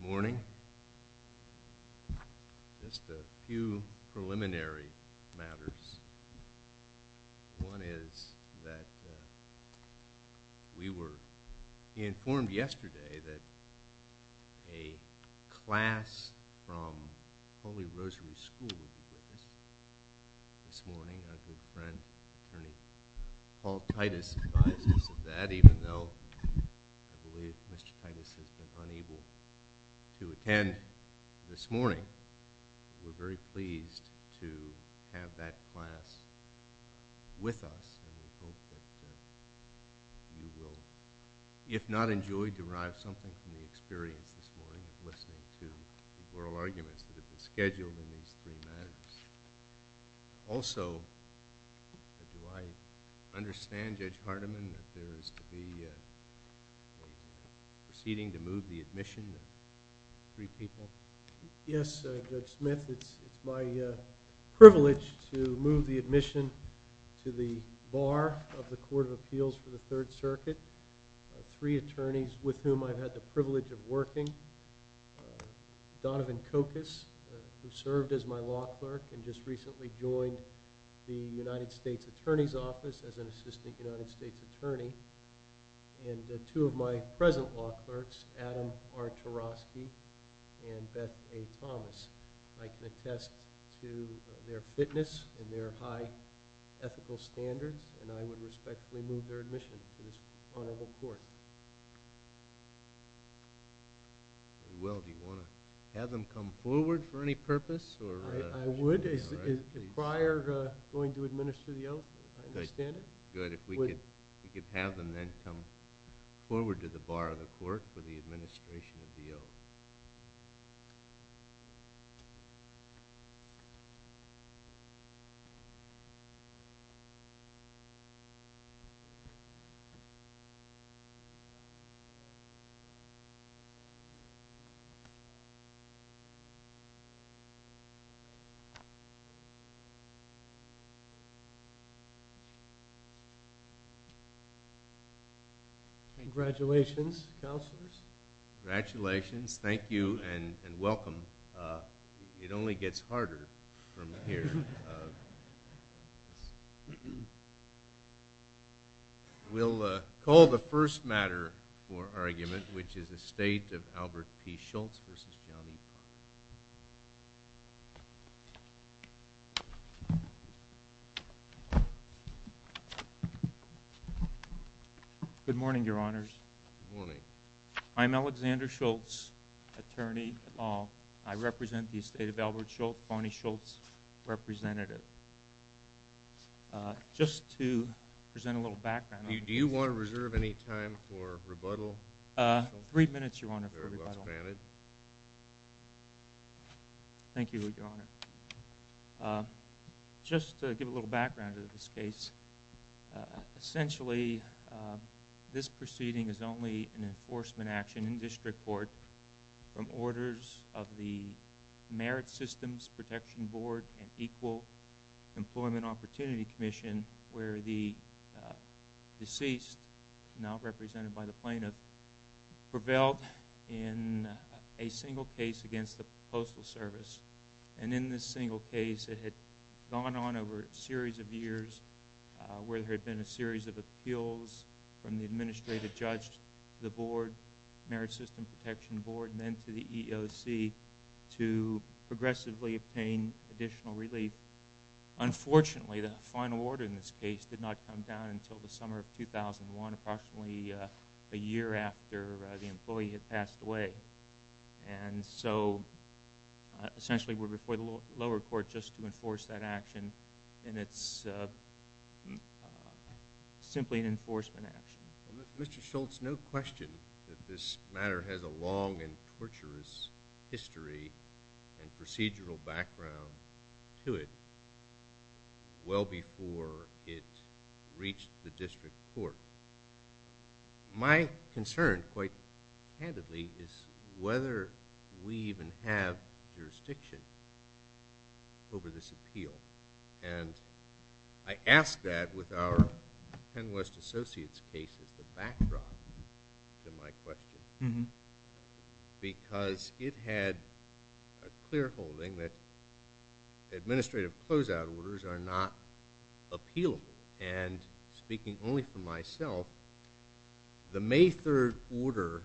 Good morning. Just a few preliminary matters. One is that we were informed yesterday that a class from Holy Rosary School will be with us this morning. A good friend, attorney Paul Titus advised us of that, even though I believe Mr. Titus has been unable to attend this morning. We're very pleased to have that class with us and we hope that you will, if not enjoyed, derive something from the experience this morning of listening to the oral arguments that have been scheduled in these three matters. Also, do I understand, Judge Hardiman, that there is to be proceeding to move the admission of three people? Yes, Judge Smith. It's my privilege to move the admission to the bar of the Court of Appeals for the Third Circuit. Three attorneys with whom I've had the privilege of working, Donovan Kokus, who served as my law clerk and just recently joined the United States Attorney's Office as an Assistant United States Attorney, and two of my present law clerks, Adam R. Tarosky and Beth A. Thomas. I can attest to their fitness and their high ethical standards and I would respectfully move their admission to this honorable court. Well, do you want to have them come forward for any purpose? I would. Is the crier going to administer the oath? I understand it. Good. If we could have them then come forward to the bar of the court for the administration of the oath. Congratulations, Counselors. Congratulations. Thank you and welcome. It only gets harder and harder from here. We'll call the first matter for argument, which is the State of Albert P. Schultz v. John E. Paul. Good morning, Your Honors. Good morning. I'm Alexander Schultz, attorney at law. I represent the State of Albert P. Schultz, representative. Just to present a little background. Do you want to reserve any time for rebuttal? Three minutes, Your Honor, for rebuttal. Very well expanded. Thank you, Your Honor. Just to give a little background to this case, essentially this proceeding is only an enforcement action in district court from orders of the Merit Systems Protection Board and Equal Employment Opportunity Commission where the deceased, now represented by the plaintiff, prevailed in a single case against the Postal Service. And in this single case, it had gone on over a series of years where there had been a series of appeals from the administrative judge, the board, Merit Systems Protection Board, and then to the EEOC to progressively obtain additional relief. Unfortunately, the final order in this case did not come down until the summer of 2001, approximately a year after the employee had passed away. And so essentially we're before the lower court just to enforce that action, and it's simply an enforcement action. Mr. Schultz, no question that this matter has a long and torturous history and procedural background to it well before it reached the district court. My concern, quite candidly, is whether we even have jurisdiction over this appeal. And I ask that with our PennWest Associates case as the backdrop to my question because it had a clear holding that administrative closeout orders are not appealable. And speaking only for myself, the May 3rd order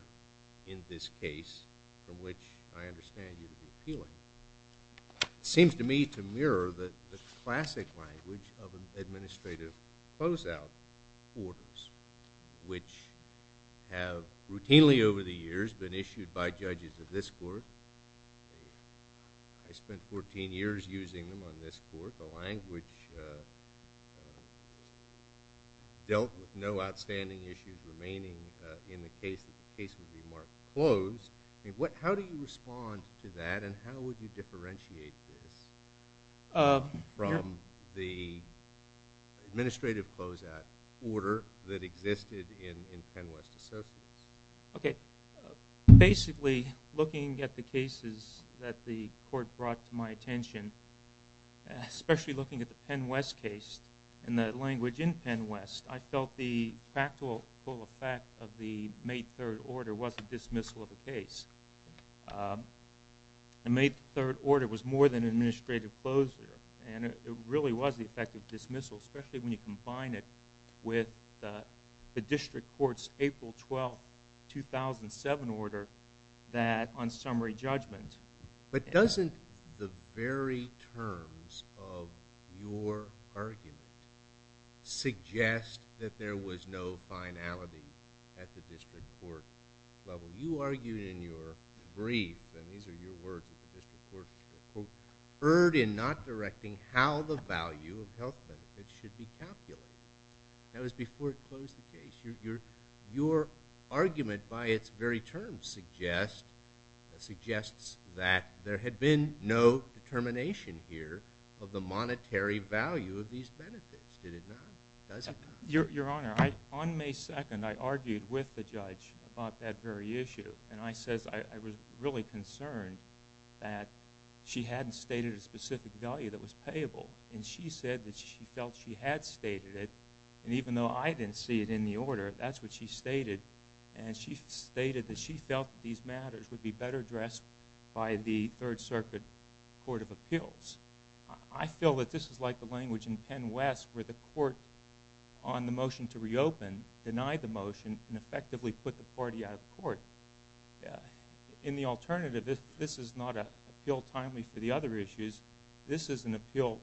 in this case, from which I understand you to be appealing, seems to me to mirror the classic language of administrative closeout orders, which have routinely over the years been issued by judges of this court. I spent 14 years using them on this court. The language dealt with no outstanding issues remaining in the case that the case would be marked closed. How do you respond to that, and how would you differentiate this from the administrative closeout order that existed in PennWest Associates? Okay. Basically, looking at the cases that the court brought to my attention, especially looking at the PennWest case and the language in PennWest, I felt the practical effect of the May 3rd order was a dismissal of the case. The May 3rd order was more than an administrative closure, and it really was the effect of dismissal, especially when you combine it with the district court's April 12, 2007 order on summary judgment. But doesn't the very terms of your argument suggest that there was no finality at the district court level? You argued in your brief, and these are your words at the district court, erred in not directing how the value of health benefits should be calculated. That was before it closed the case. Your argument by its very terms suggests that there had been no determination here of the monetary value of these benefits. Did it not? Does it not? Your Honor, on May 2nd, I argued with the judge about that very issue, and I said I was really concerned that she hadn't stated a specific value that was payable, and she said that she felt she had stated it, and even though I didn't see it in the order, that's what she stated, and she stated that she felt these matters would be better addressed by the Third Circuit Court of Appeals. I feel that this is like the language in PennWest where the court, on the motion to reopen, denied the motion and effectively put the party out of court. In the alternative, this is not an appeal timely for the other issues. This is an appeal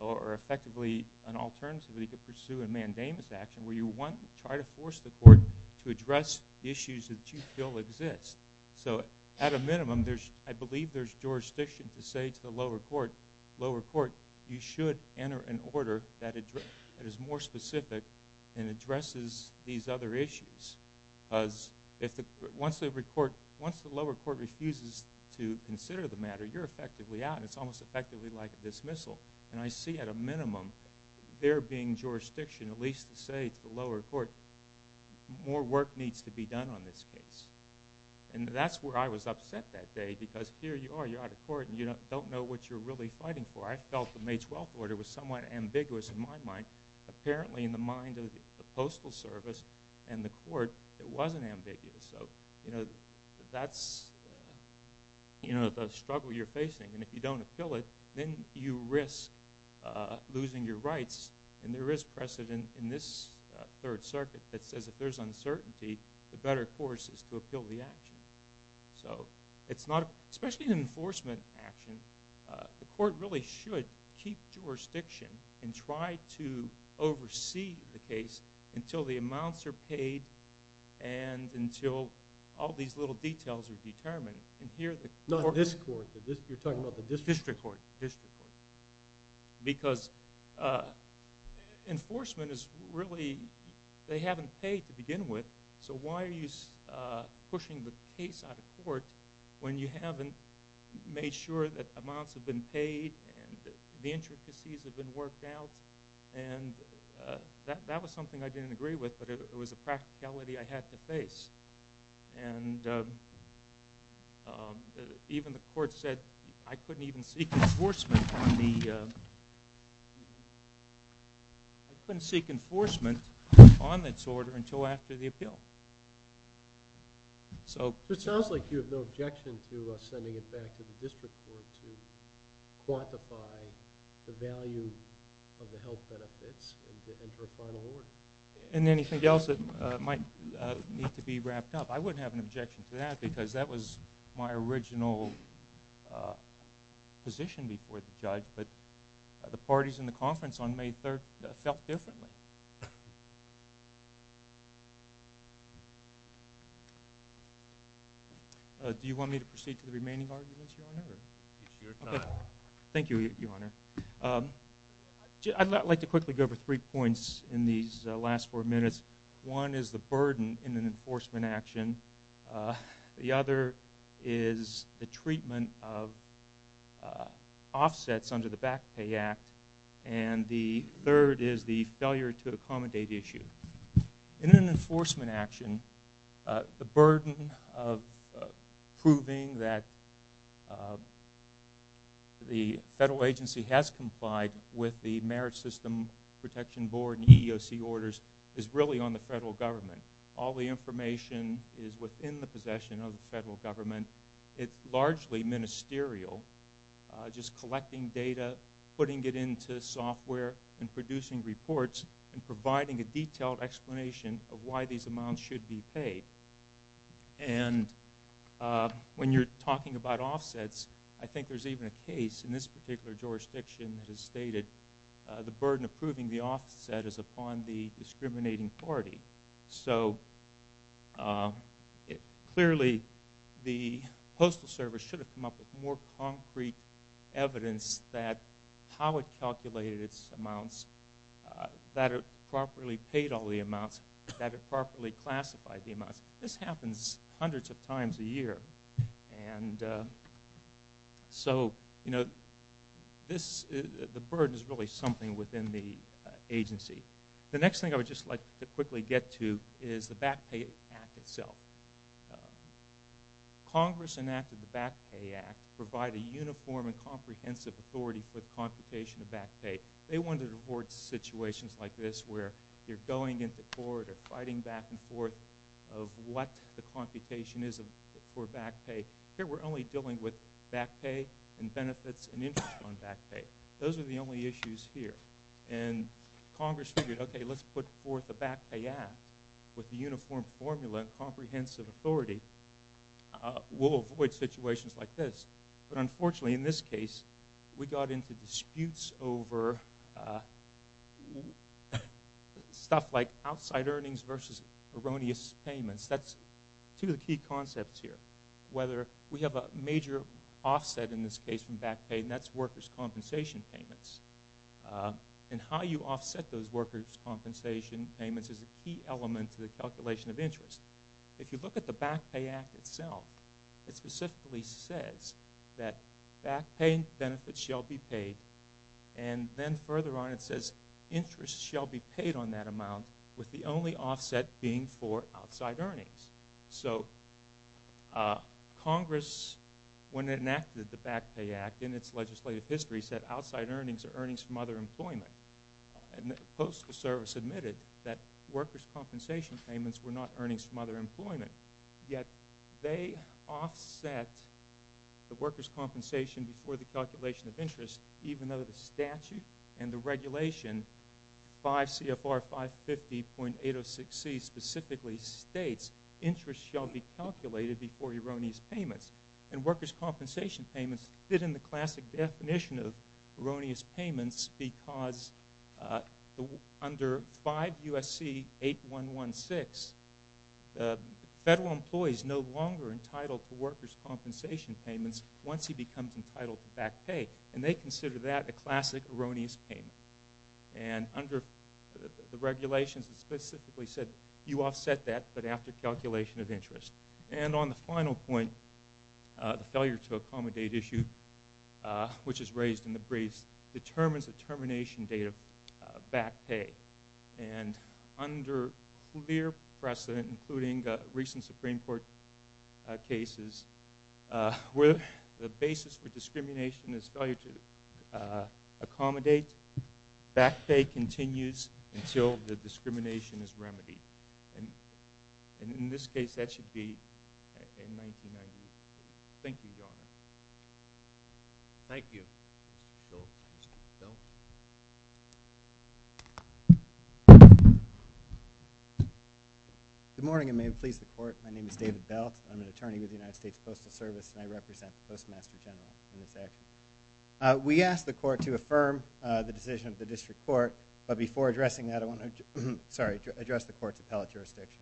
or effectively an alternative that you could pursue in mandamus action where you want to try to force the court to address issues that you feel exist. So at a minimum, I believe there's jurisdiction to say to the lower court, lower court, you should enter an order that is more specific and addresses these other issues. Once the lower court refuses to consider the matter, you're effectively out, and it's almost effectively like a dismissal, and I see at a minimum there being jurisdiction at least to say to the lower court, more work needs to be done on this case, and that's where I was upset that day because here you are. You're out of court, and you don't know what you're really fighting for. I felt the May 12th order was somewhat ambiguous in my mind. Apparently, in the mind of the Postal Service and the court, it wasn't ambiguous. So that's the struggle you're facing, and if you don't appeal it, then you risk losing your rights, and there is precedent in this Third Circuit that says if there's uncertainty, the better course is to appeal the action. So it's not, especially in an enforcement action, the court really should keep jurisdiction and try to oversee the case until the amounts are paid and until all these little details are determined, and here the court... Not this court. You're talking about the district court. District court, district court, because enforcement is really, they haven't paid to begin with, so why are you pushing the case out of court when you haven't made sure that amounts have been paid and the intricacies have been worked out, and that was something I didn't agree with, but it was a practicality I had to face, and even the court said I couldn't even seek enforcement on this order until after the appeal. So... It sounds like you have no objection to sending it back to the district court to quantify the value of the health benefits and to enter a final order. And anything else that might need to be wrapped up. I wouldn't have an objection to that because that was my original position before the judge, but the parties in the conference on May 3rd felt differently. Do you want me to proceed to the remaining arguments, Your Honor? It's your time. Thank you, Your Honor. I'd like to quickly go over three points in these last four minutes. One is the burden in an enforcement action. The other is the treatment of offsets under the Back Pay Act, and the third is the failure to accommodate issue. In an enforcement action, the burden of proving that the federal agency has complied with the Merit System Protection Board and EEOC orders is really on the federal government. All the information is within the possession of the federal government. It's largely ministerial, just collecting data, putting it into software and producing reports and providing a detailed explanation of why these amounts should be paid. And when you're talking about offsets, I think there's even a case in this particular jurisdiction that has stated the burden of proving the offset is upon the discriminating party. So, clearly, the Postal Service should have come up with more concrete evidence that how it calculated its amounts, that it properly paid all the amounts, that it properly classified the amounts. This happens hundreds of times a year. And so, you know, the burden is really something within the agency. The next thing I would just like to quickly get to is the Back Pay Act itself. Congress enacted the Back Pay Act to provide a uniform and comprehensive authority for the computation of back pay. They wanted to avoid situations like this where you're going into court or fighting back and forth of what the computation is for back pay. Here, we're only dealing with back pay and benefits and interest on back pay. Those are the only issues here. And Congress figured, okay, let's put forth the Back Pay Act with the uniform formula and comprehensive authority. We'll avoid situations like this. But unfortunately, in this case, we got into disputes over stuff like outside earnings versus erroneous payments. That's two of the key concepts here, whether we have a major offset in this case from back compensation payments. And how you offset those workers' compensation payments is a key element to the calculation of interest. If you look at the Back Pay Act itself, it specifically says that back pay and benefits shall be paid. And then further on, it says interest shall be paid on that amount with the only offset being for outside earnings. So Congress, when it enacted the Back Pay Act in its legislative history, said outside earnings are earnings from other employment. And the Postal Service admitted that workers' compensation payments were not earnings from other employment. Yet they offset the workers' compensation before the calculation of interest, even though the statute and the regulation, 5 CFR 550.806C, specifically states interest shall be calculated before erroneous payments. And workers' compensation payments fit in the classic definition of erroneous payments because under 5 USC 8116, federal employees are no longer entitled to workers' compensation payments once he becomes entitled to back pay. And they consider that a classic erroneous payment. And under the regulations, it specifically said you offset that, but after calculation of interest. And on the final point, the failure to accommodate issue, which is raised in the briefs, determines the termination date of back pay. And under clear precedent, including recent Supreme Court cases, where the basis for discrimination is failure to accommodate, back pay continues until the discrimination is remedied. And in this case, that should be in 1990. Thank you, Your Honor. Thank you. Bill. Good morning, and may it please the Court. My name is David Belt. I'm an attorney with the United States Postal Service, and I represent the Postmaster General in this action. We asked the Court to affirm the decision of the District Court, but before addressing that, I want to address the Court's appellate jurisdiction.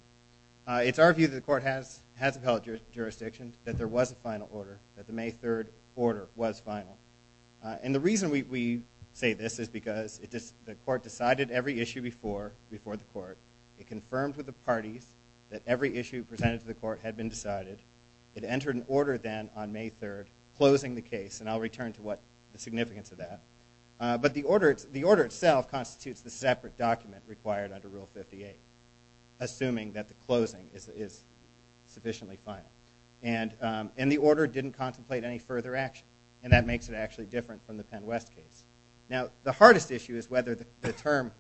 It's our view that the Court has appellate jurisdiction, that there was a final order, that the May 3rd order was final. And the reason we say this is because the Court decided every issue before the Court. It confirmed with the parties that every issue presented to the Court had been decided. It entered an order then on May 3rd, closing the case, and I'll return to the significance of that. But the order itself constitutes the separate document required under Rule 58, assuming that the closing is sufficiently final. And the order didn't contemplate any further action, and that makes it actually different from the Penn West case. Now, the hardest issue is whether the term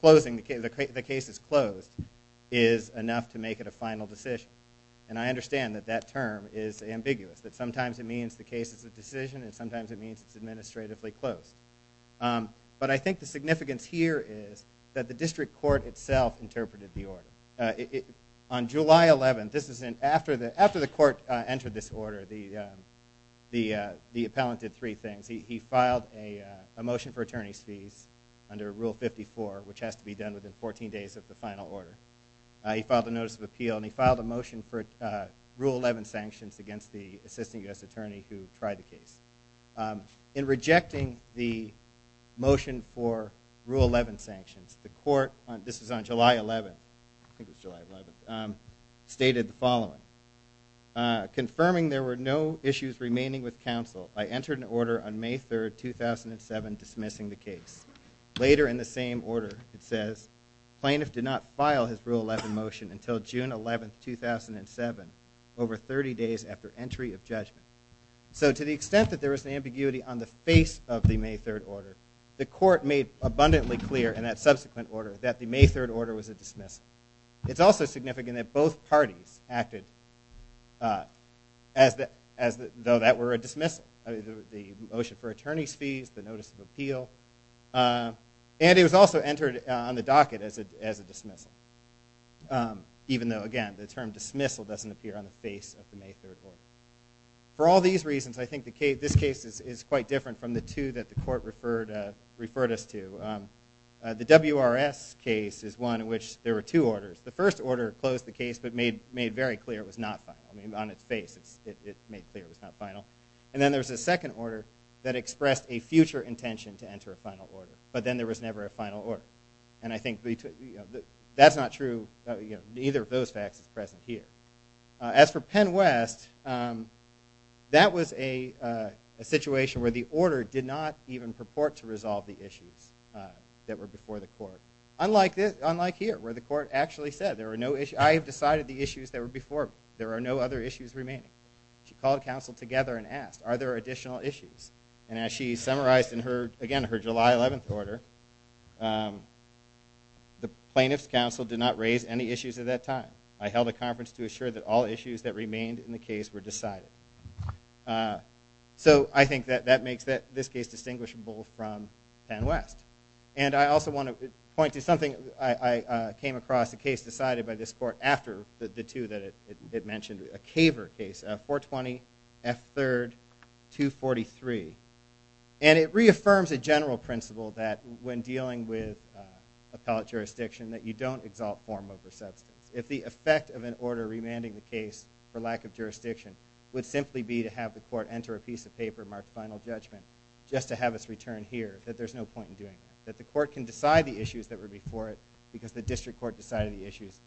closing, the case is closed, is enough to make it a final decision. And I understand that that term is ambiguous, that sometimes it means the case is a decision and sometimes it means it's administratively closed. But I think the significance here is that the District Court itself interpreted the order. On July 11th, this is after the Court entered this order, the appellant did three things. He filed a motion for attorney's fees under Rule 54, which has to be done within 14 days of the final order. He filed a notice of appeal, and he filed a motion for Rule 11 sanctions against the assistant U.S. attorney who tried the case. In rejecting the motion for Rule 11 sanctions, the Court, this was on July 11th, I think it was July 11th, stated the following. Confirming there were no issues remaining with counsel, I entered an order on May 3rd, 2007, dismissing the case. Later in the same order, it says, plaintiff did not file his Rule 11 motion until June 11th, 2007, over 30 days after entry of judgment. So to the extent that there was an ambiguity on the face of the May 3rd order, the Court made abundantly clear in that subsequent order that the May 3rd order was a dismissal. It's also significant that both parties acted as though that were a dismissal. The motion for attorney's fees, the notice of appeal, and it was also entered on the docket as a dismissal, even though, again, the term dismissal doesn't appear on the face of the May 3rd order. For all these reasons, I think this case is quite different from the two that the Court referred us to. The WRS case is one in which there were two orders. The first order closed the case but made very clear it was not final. I mean, on its face, it made clear it was not final. And then there was a second order that expressed a future intention to enter a final order, but then there was never a final order. And I think that's not true. Neither of those facts is present here. As for Penn West, that was a situation where the order did not even purport to resolve the issues that were before the Court, unlike here, where the Court actually said, I have decided the issues that were before me. There are no other issues remaining. She called counsel together and asked, are there additional issues? And as she summarized in her, again, her July 11th order, the plaintiff's counsel did not raise any issues at that time. I held a conference to assure that all issues that remained in the case were decided. So I think that that makes this case distinguishable from Penn West. And I also want to point to something I came across, a case decided by this Court after the two that it mentioned, a Caver case, 420 F. 3rd, 243. And it reaffirms a general principle that when dealing with appellate jurisdiction that you don't exalt form over substance. If the effect of an order remanding the case for lack of jurisdiction would simply be to have the Court enter a piece of paper marked final judgment just to have us return here, that there's no point in doing that. That the Court can decide the issues that were before it because the District Court decided the issues.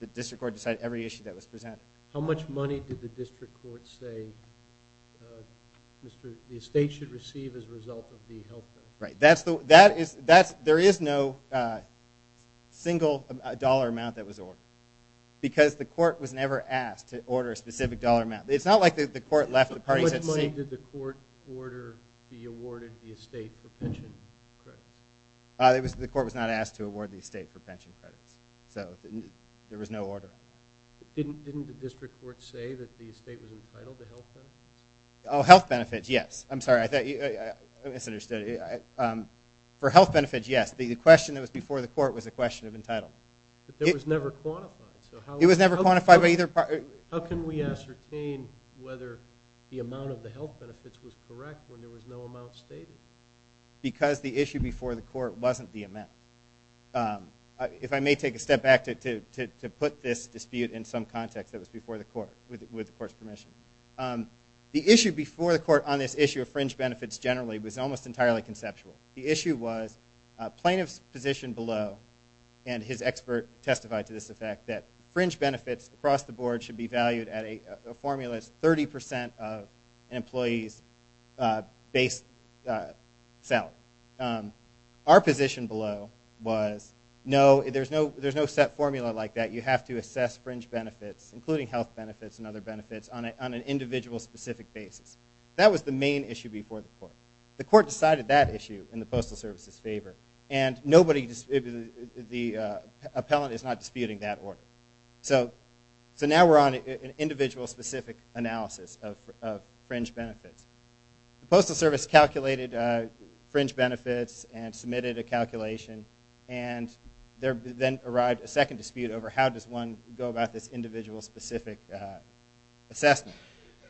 The District Court decided every issue that was presented. How much money did the District Court say the estate should receive as a result of the health bill? Right. There is no single dollar amount that was ordered because the Court was never asked to order a specific dollar amount. It's not like the Court left the parties had to say. How much money did the Court order be awarded the estate for pension credits? The Court was not asked to award the estate for pension credits. So there was no order. Didn't the District Court say that the estate was entitled to health benefits? Oh, health benefits, yes. I'm sorry. I misunderstood. For health benefits, yes. The question that was before the Court was a question of entitlement. But that was never quantified. It was never quantified by either party. How can we ascertain whether the amount of the health benefits was correct when there was no amount stated? Because the issue before the Court wasn't the amount. If I may take a step back to put this dispute in some context that was before the Court with the Court's permission. The issue before the Court on this issue of fringe benefits generally was almost entirely conceptual. The issue was plaintiff's position below and his expert testified to this effect that fringe benefits across the board should be valued at a formula that's 30 percent of an employee's base salary. Our position below was no, there's no set formula like that. You have to assess fringe benefits including health benefits and other benefits on an individual specific basis. That was the main issue before the Court. The Court decided that issue in the Postal Service's favor. And nobody, the appellant is not disputing that order. So now we're on an individual specific analysis of fringe benefits. The Postal Service calculated fringe benefits and submitted a calculation and there then arrived a second dispute over how does one go about this individual specific assessment.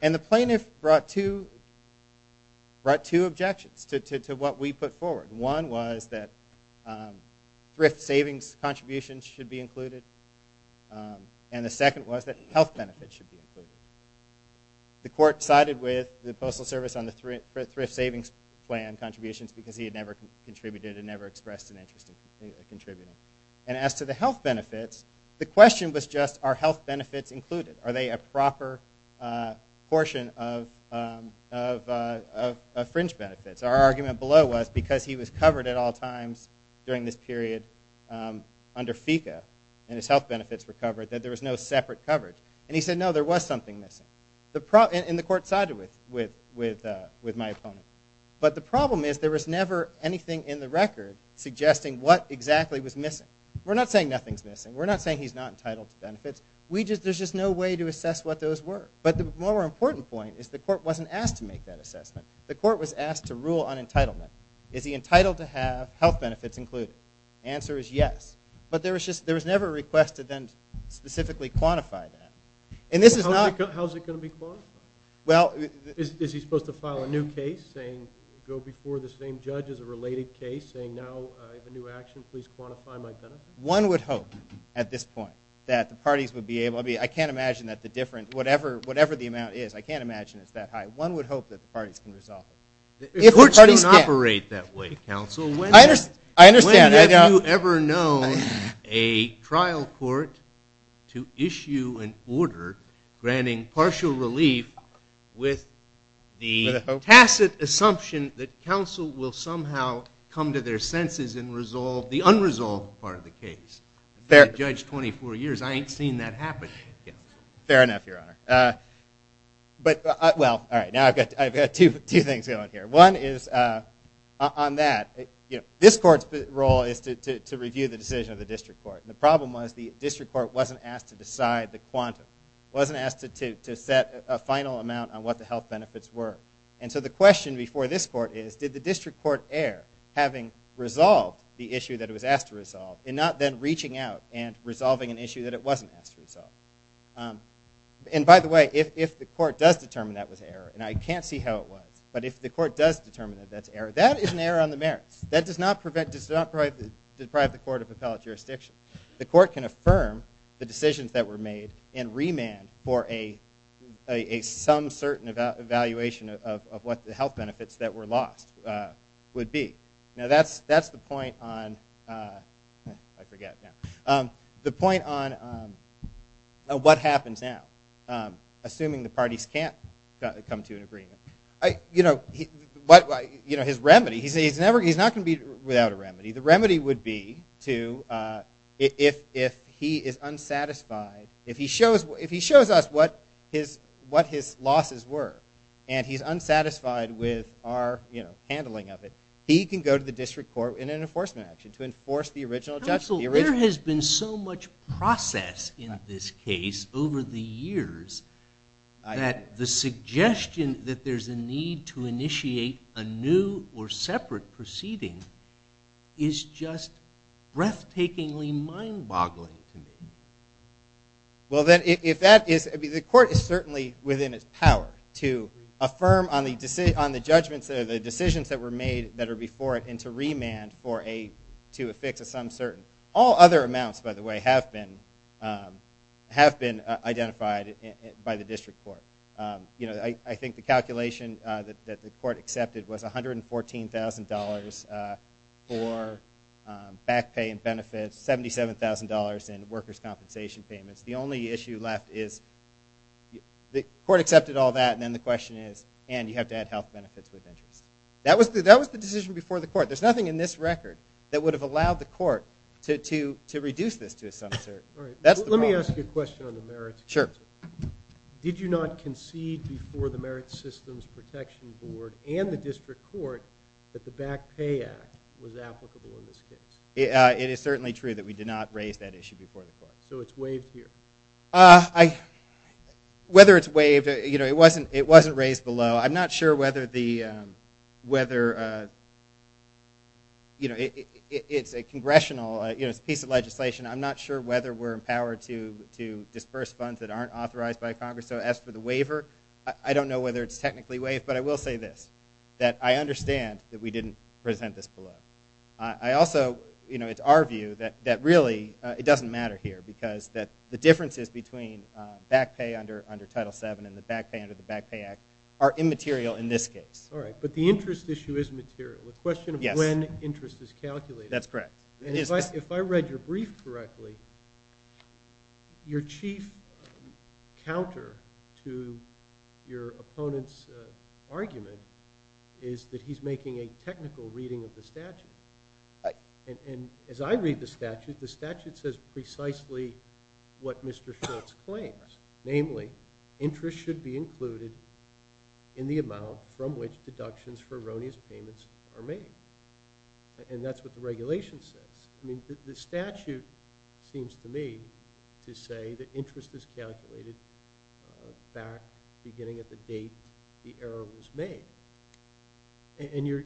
And the plaintiff brought two objections to what we put forward. One was that thrift savings contributions should be included and the second was that health benefits should be included. The Court sided with the Postal Service on the thrift savings plan contributions because he had never contributed and never expressed an interest in contributing. And as to the health benefits, the question was just are health benefits included? Are they a proper portion of fringe benefits? Our argument below was because he was covered at all times during this period under FECA and his health benefits were covered that there was no separate coverage. And he said no, there was something missing. And the Court sided with my opponent. But the problem is there was never anything in the record suggesting what exactly was missing. We're not saying nothing's missing. We're not saying he's not entitled to benefits. There's just no way to assess what those were. But the more important point is the Court wasn't asked to make that assessment. The Court was asked to rule on entitlement. Is he entitled to have health benefits included? The answer is yes. But there was never a request to then specifically quantify that. How is it going to be quantified? Is he supposed to file a new case saying go before the same judge as a related case saying, now I have a new action, please quantify my benefits? One would hope at this point that the parties would be able to be, I can't imagine that the difference, whatever the amount is, I can't imagine it's that high. But one would hope that the parties can resolve it. If the parties can. Courts don't operate that way, counsel. I understand. When have you ever known a trial court to issue an order granting partial relief with the tacit assumption that counsel will somehow come to their senses and resolve the unresolved part of the case? I've been a judge 24 years. I ain't seen that happen yet. Fair enough, Your Honor. But, well, all right, now I've got two things going here. One is on that, this court's role is to review the decision of the district court. And the problem was the district court wasn't asked to decide the quantum, wasn't asked to set a final amount on what the health benefits were. And so the question before this court is, did the district court err, having resolved the issue that it was asked to resolve, and not then reaching out and resolving an issue that it wasn't asked to resolve? And, by the way, if the court does determine that was error, and I can't see how it was, but if the court does determine that that's error, that is an error on the merits. That does not deprive the court of appellate jurisdiction. The court can affirm the decisions that were made and remand for a some certain evaluation of what the health benefits that were lost would be. Now, that's the point on, I forget. The point on what happens now, assuming the parties can't come to an agreement. You know, his remedy, he's not going to be without a remedy. The remedy would be to, if he is unsatisfied, if he shows us what his losses were, and he's unsatisfied with our handling of it, he can go to the district court in an enforcement action to enforce the original judgment. Counsel, there has been so much process in this case over the years that the suggestion that there's a need to initiate a new or separate proceeding is just breathtakingly mind-boggling to me. Well, then, if that is, the court is certainly within its power to affirm on the judgments, the decisions that were made that are before it, and to remand for a, to a fix of some certain. All other amounts, by the way, have been identified by the district court. You know, I think the calculation that the court accepted was $114,000 for back pay and benefits, $77,000 in workers' compensation payments. The only issue left is the court accepted all that, and then the question is, and you have to add health benefits with interest. That was the decision before the court. There's nothing in this record that would have allowed the court to reduce this to some certain. All right, let me ask you a question on the merits. Sure. Did you not concede before the Merit Systems Protection Board and the district court that the Back Pay Act was applicable in this case? It is certainly true that we did not raise that issue before the court. So it's waived here? I, whether it's waived, you know, it wasn't raised below. I'm not sure whether the, whether, you know, it's a congressional, you know, it's a piece of legislation. I'm not sure whether we're empowered to disperse funds that aren't authorized by Congress. So as for the waiver, I don't know whether it's technically waived, but I will say this, that I understand that we didn't present this below. I also, you know, it's our view that really it doesn't matter here because the differences between back pay under Title VII and the back pay under the Back Pay Act are immaterial in this case. All right, but the interest issue is material. The question of when interest is calculated. That's correct. If I read your brief correctly, your chief counter to your opponent's argument is that he's making a technical reading of the statute. Right. And as I read the statute, the statute says precisely what Mr. Schultz claims, namely interest should be included in the amount from which deductions for erroneous payments are made. And that's what the regulation says. I mean, the statute seems to me to say that interest is calculated back beginning at the date the error was made. And, you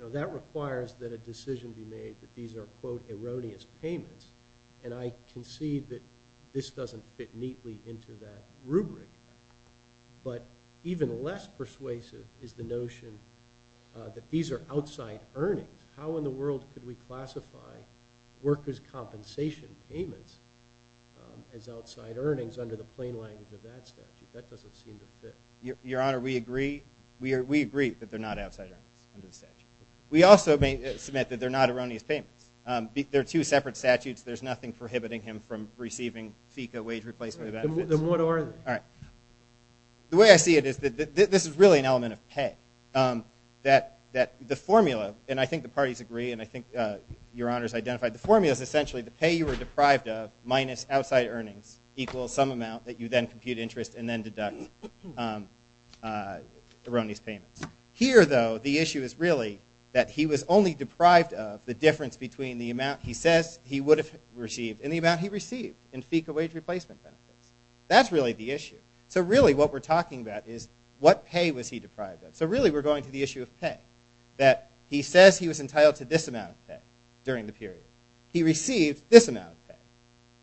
know, that requires that a decision be made that these are, quote, erroneous payments. And I can see that this doesn't fit neatly into that rubric. But even less persuasive is the notion that these are outside earnings. How in the world could we classify workers' compensation payments as outside earnings under the plain language of that statute? That doesn't seem to fit. Your Honor, we agree that they're not outside earnings under the statute. We also submit that they're not erroneous payments. They're two separate statutes. There's nothing prohibiting him from receiving FECA wage replacement benefits. Then what are they? All right. The way I see it is that this is really an element of pay. That the formula, and I think the parties agree, and I think Your Honor's identified, the formula is essentially the pay you were deprived of minus outside earnings equals some amount that you then compute interest and then deduct erroneous payments. Here, though, the issue is really that he was only deprived of the difference between the amount he says he would have received and the amount he received in FECA wage replacement benefits. That's really the issue. So really what we're talking about is what pay was he deprived of. So really we're going to the issue of pay, that he says he was entitled to this amount of pay during the period. He received this amount of pay.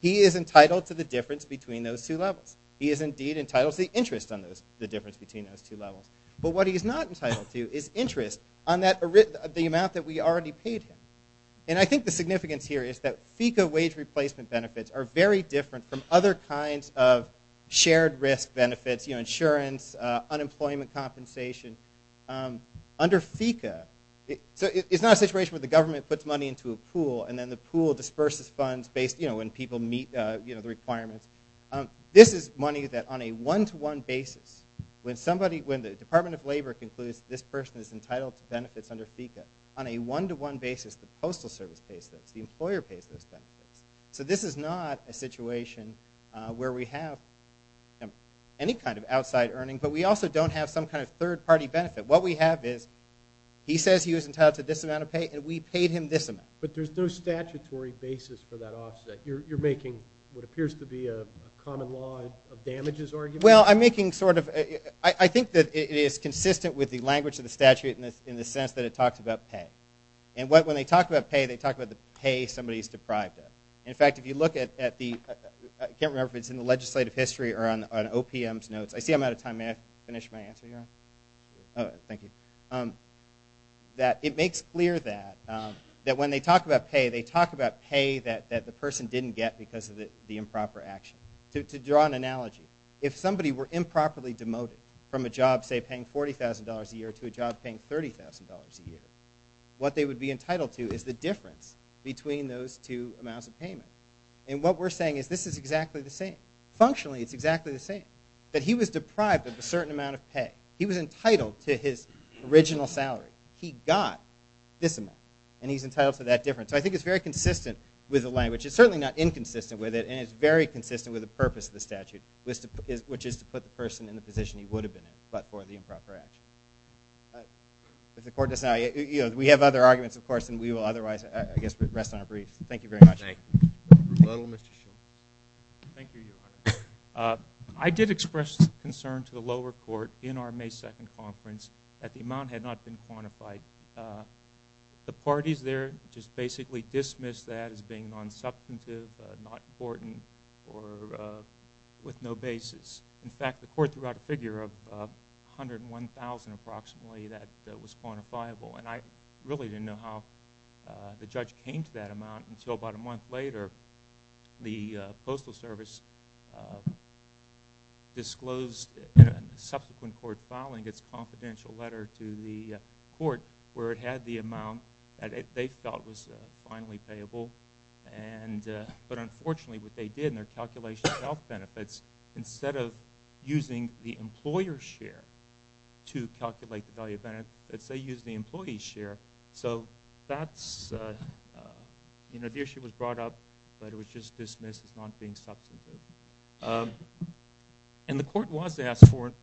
He is entitled to the difference between those two levels. He is indeed entitled to the interest on the difference between those two levels. But what he's not entitled to is interest on the amount that we already paid him. And I think the significance here is that FECA wage replacement benefits are very different from other kinds of shared risk benefits, you know, insurance, unemployment compensation. Under FECA, it's not a situation where the government puts money into a pool and then the pool disperses funds based, you know, when people meet the requirements. This is money that on a one-to-one basis, when the Department of Labor concludes this person is entitled to benefits under FECA, on a one-to-one basis, the Postal Service pays those, the employer pays those benefits. So this is not a situation where we have any kind of outside earning, but we also don't have some kind of third-party benefit. What we have is he says he was entitled to this amount of pay, and we paid him this amount. But there's no statutory basis for that offset. You're making what appears to be a common law of damages argument? Well, I'm making sort of – I think that it is consistent with the language of the statute in the sense that it talks about pay. And when they talk about pay, they talk about the pay somebody is deprived of. In fact, if you look at the – I can't remember if it's in the legislative history or on OPM's notes. I see I'm out of time. May I finish my answer here? Oh, thank you. That it makes clear that when they talk about pay, they talk about pay that the person didn't get because of the improper action. To draw an analogy, if somebody were improperly demoted from a job, say, paying $40,000 a year to a job paying $30,000 a year, what they would be entitled to is the difference between those two amounts of payment. And what we're saying is this is exactly the same. That he was deprived of a certain amount of pay. He was entitled to his original salary. He got this amount, and he's entitled to that difference. So I think it's very consistent with the language. It's certainly not inconsistent with it, and it's very consistent with the purpose of the statute, which is to put the person in the position he would have been in but for the improper action. If the court does not – we have other arguments, of course, and we will otherwise, I guess, rest on our briefs. Thank you very much. Thank you. Mr. Shulman. Thank you, Your Honor. I did express concern to the lower court in our May 2nd conference that the amount had not been quantified. The parties there just basically dismissed that as being non-substantive, not important, or with no basis. In fact, the court threw out a figure of $101,000 approximately that was quantifiable, and I really didn't know how the judge came to that amount until about a month later. The Postal Service disclosed in a subsequent court filing its confidential letter to the court where it had the amount that they felt was finally payable, but unfortunately what they did in their calculation of health benefits, instead of using the employer's share to calculate the value of benefits, they used the employee's share. So that's, you know, the issue was brought up, but it was just dismissed as not being substantive. And the court was asked for it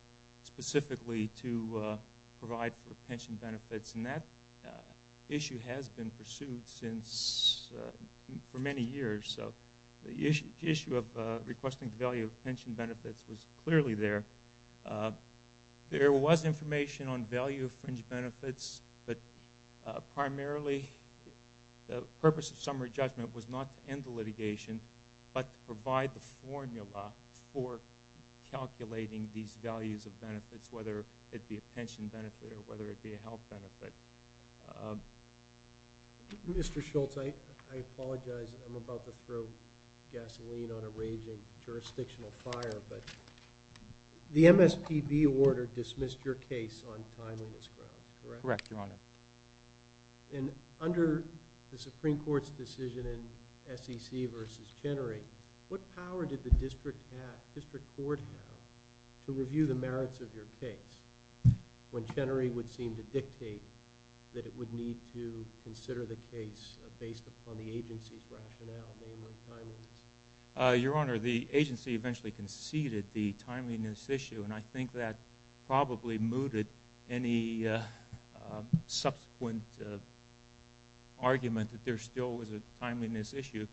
specifically to provide for pension benefits, and that issue has been pursued for many years. So the issue of requesting the value of pension benefits was clearly there. There was information on value of fringe benefits, but primarily the purpose of summary judgment was not to end the litigation, but to provide the formula for calculating these values of benefits, whether it be a pension benefit or whether it be a health benefit. Mr. Schultz, I apologize. I'm about to throw gasoline on a raging jurisdictional fire, but the MSPB order dismissed your case on timeliness grounds, correct? Correct, Your Honor. And under the Supreme Court's decision in SEC versus Chenery, what power did the district court have to review the merits of your case when Chenery would seem to dictate that it would need to consider the case based upon the agency's rationale, namely timeliness? Your Honor, the agency eventually conceded the timeliness issue, and I think that probably mooted any subsequent argument that there still was a timeliness issue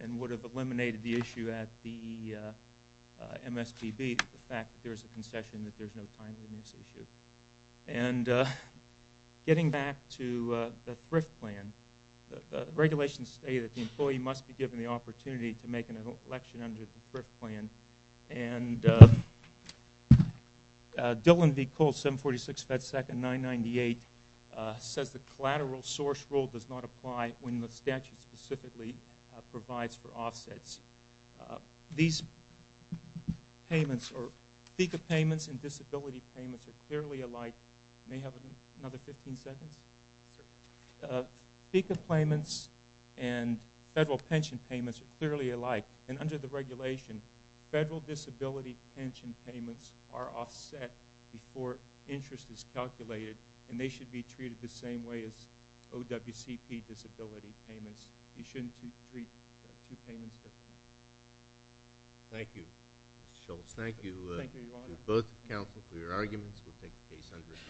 and would have eliminated the issue at the MSPB, the fact that there's a concession that there's no timeliness issue. And getting back to the thrift plan, the regulations state that the employee must be given the opportunity to make an election under the thrift plan, and Dillon v. Cole, 746 FedSecond 998, says the collateral source rule does not apply when the statute specifically provides for offsets. These payments or FECA payments and disability payments are clearly alike. May I have another 15 seconds? FECA payments and federal pension payments are clearly alike, and under the regulation, federal disability pension payments are offset before interest is calculated, and they should be treated the same way as OWCP disability payments. You shouldn't treat two payments differently. Thank you, Mr. Schultz. Thank you to both counsel for your arguments. We'll take the case under review.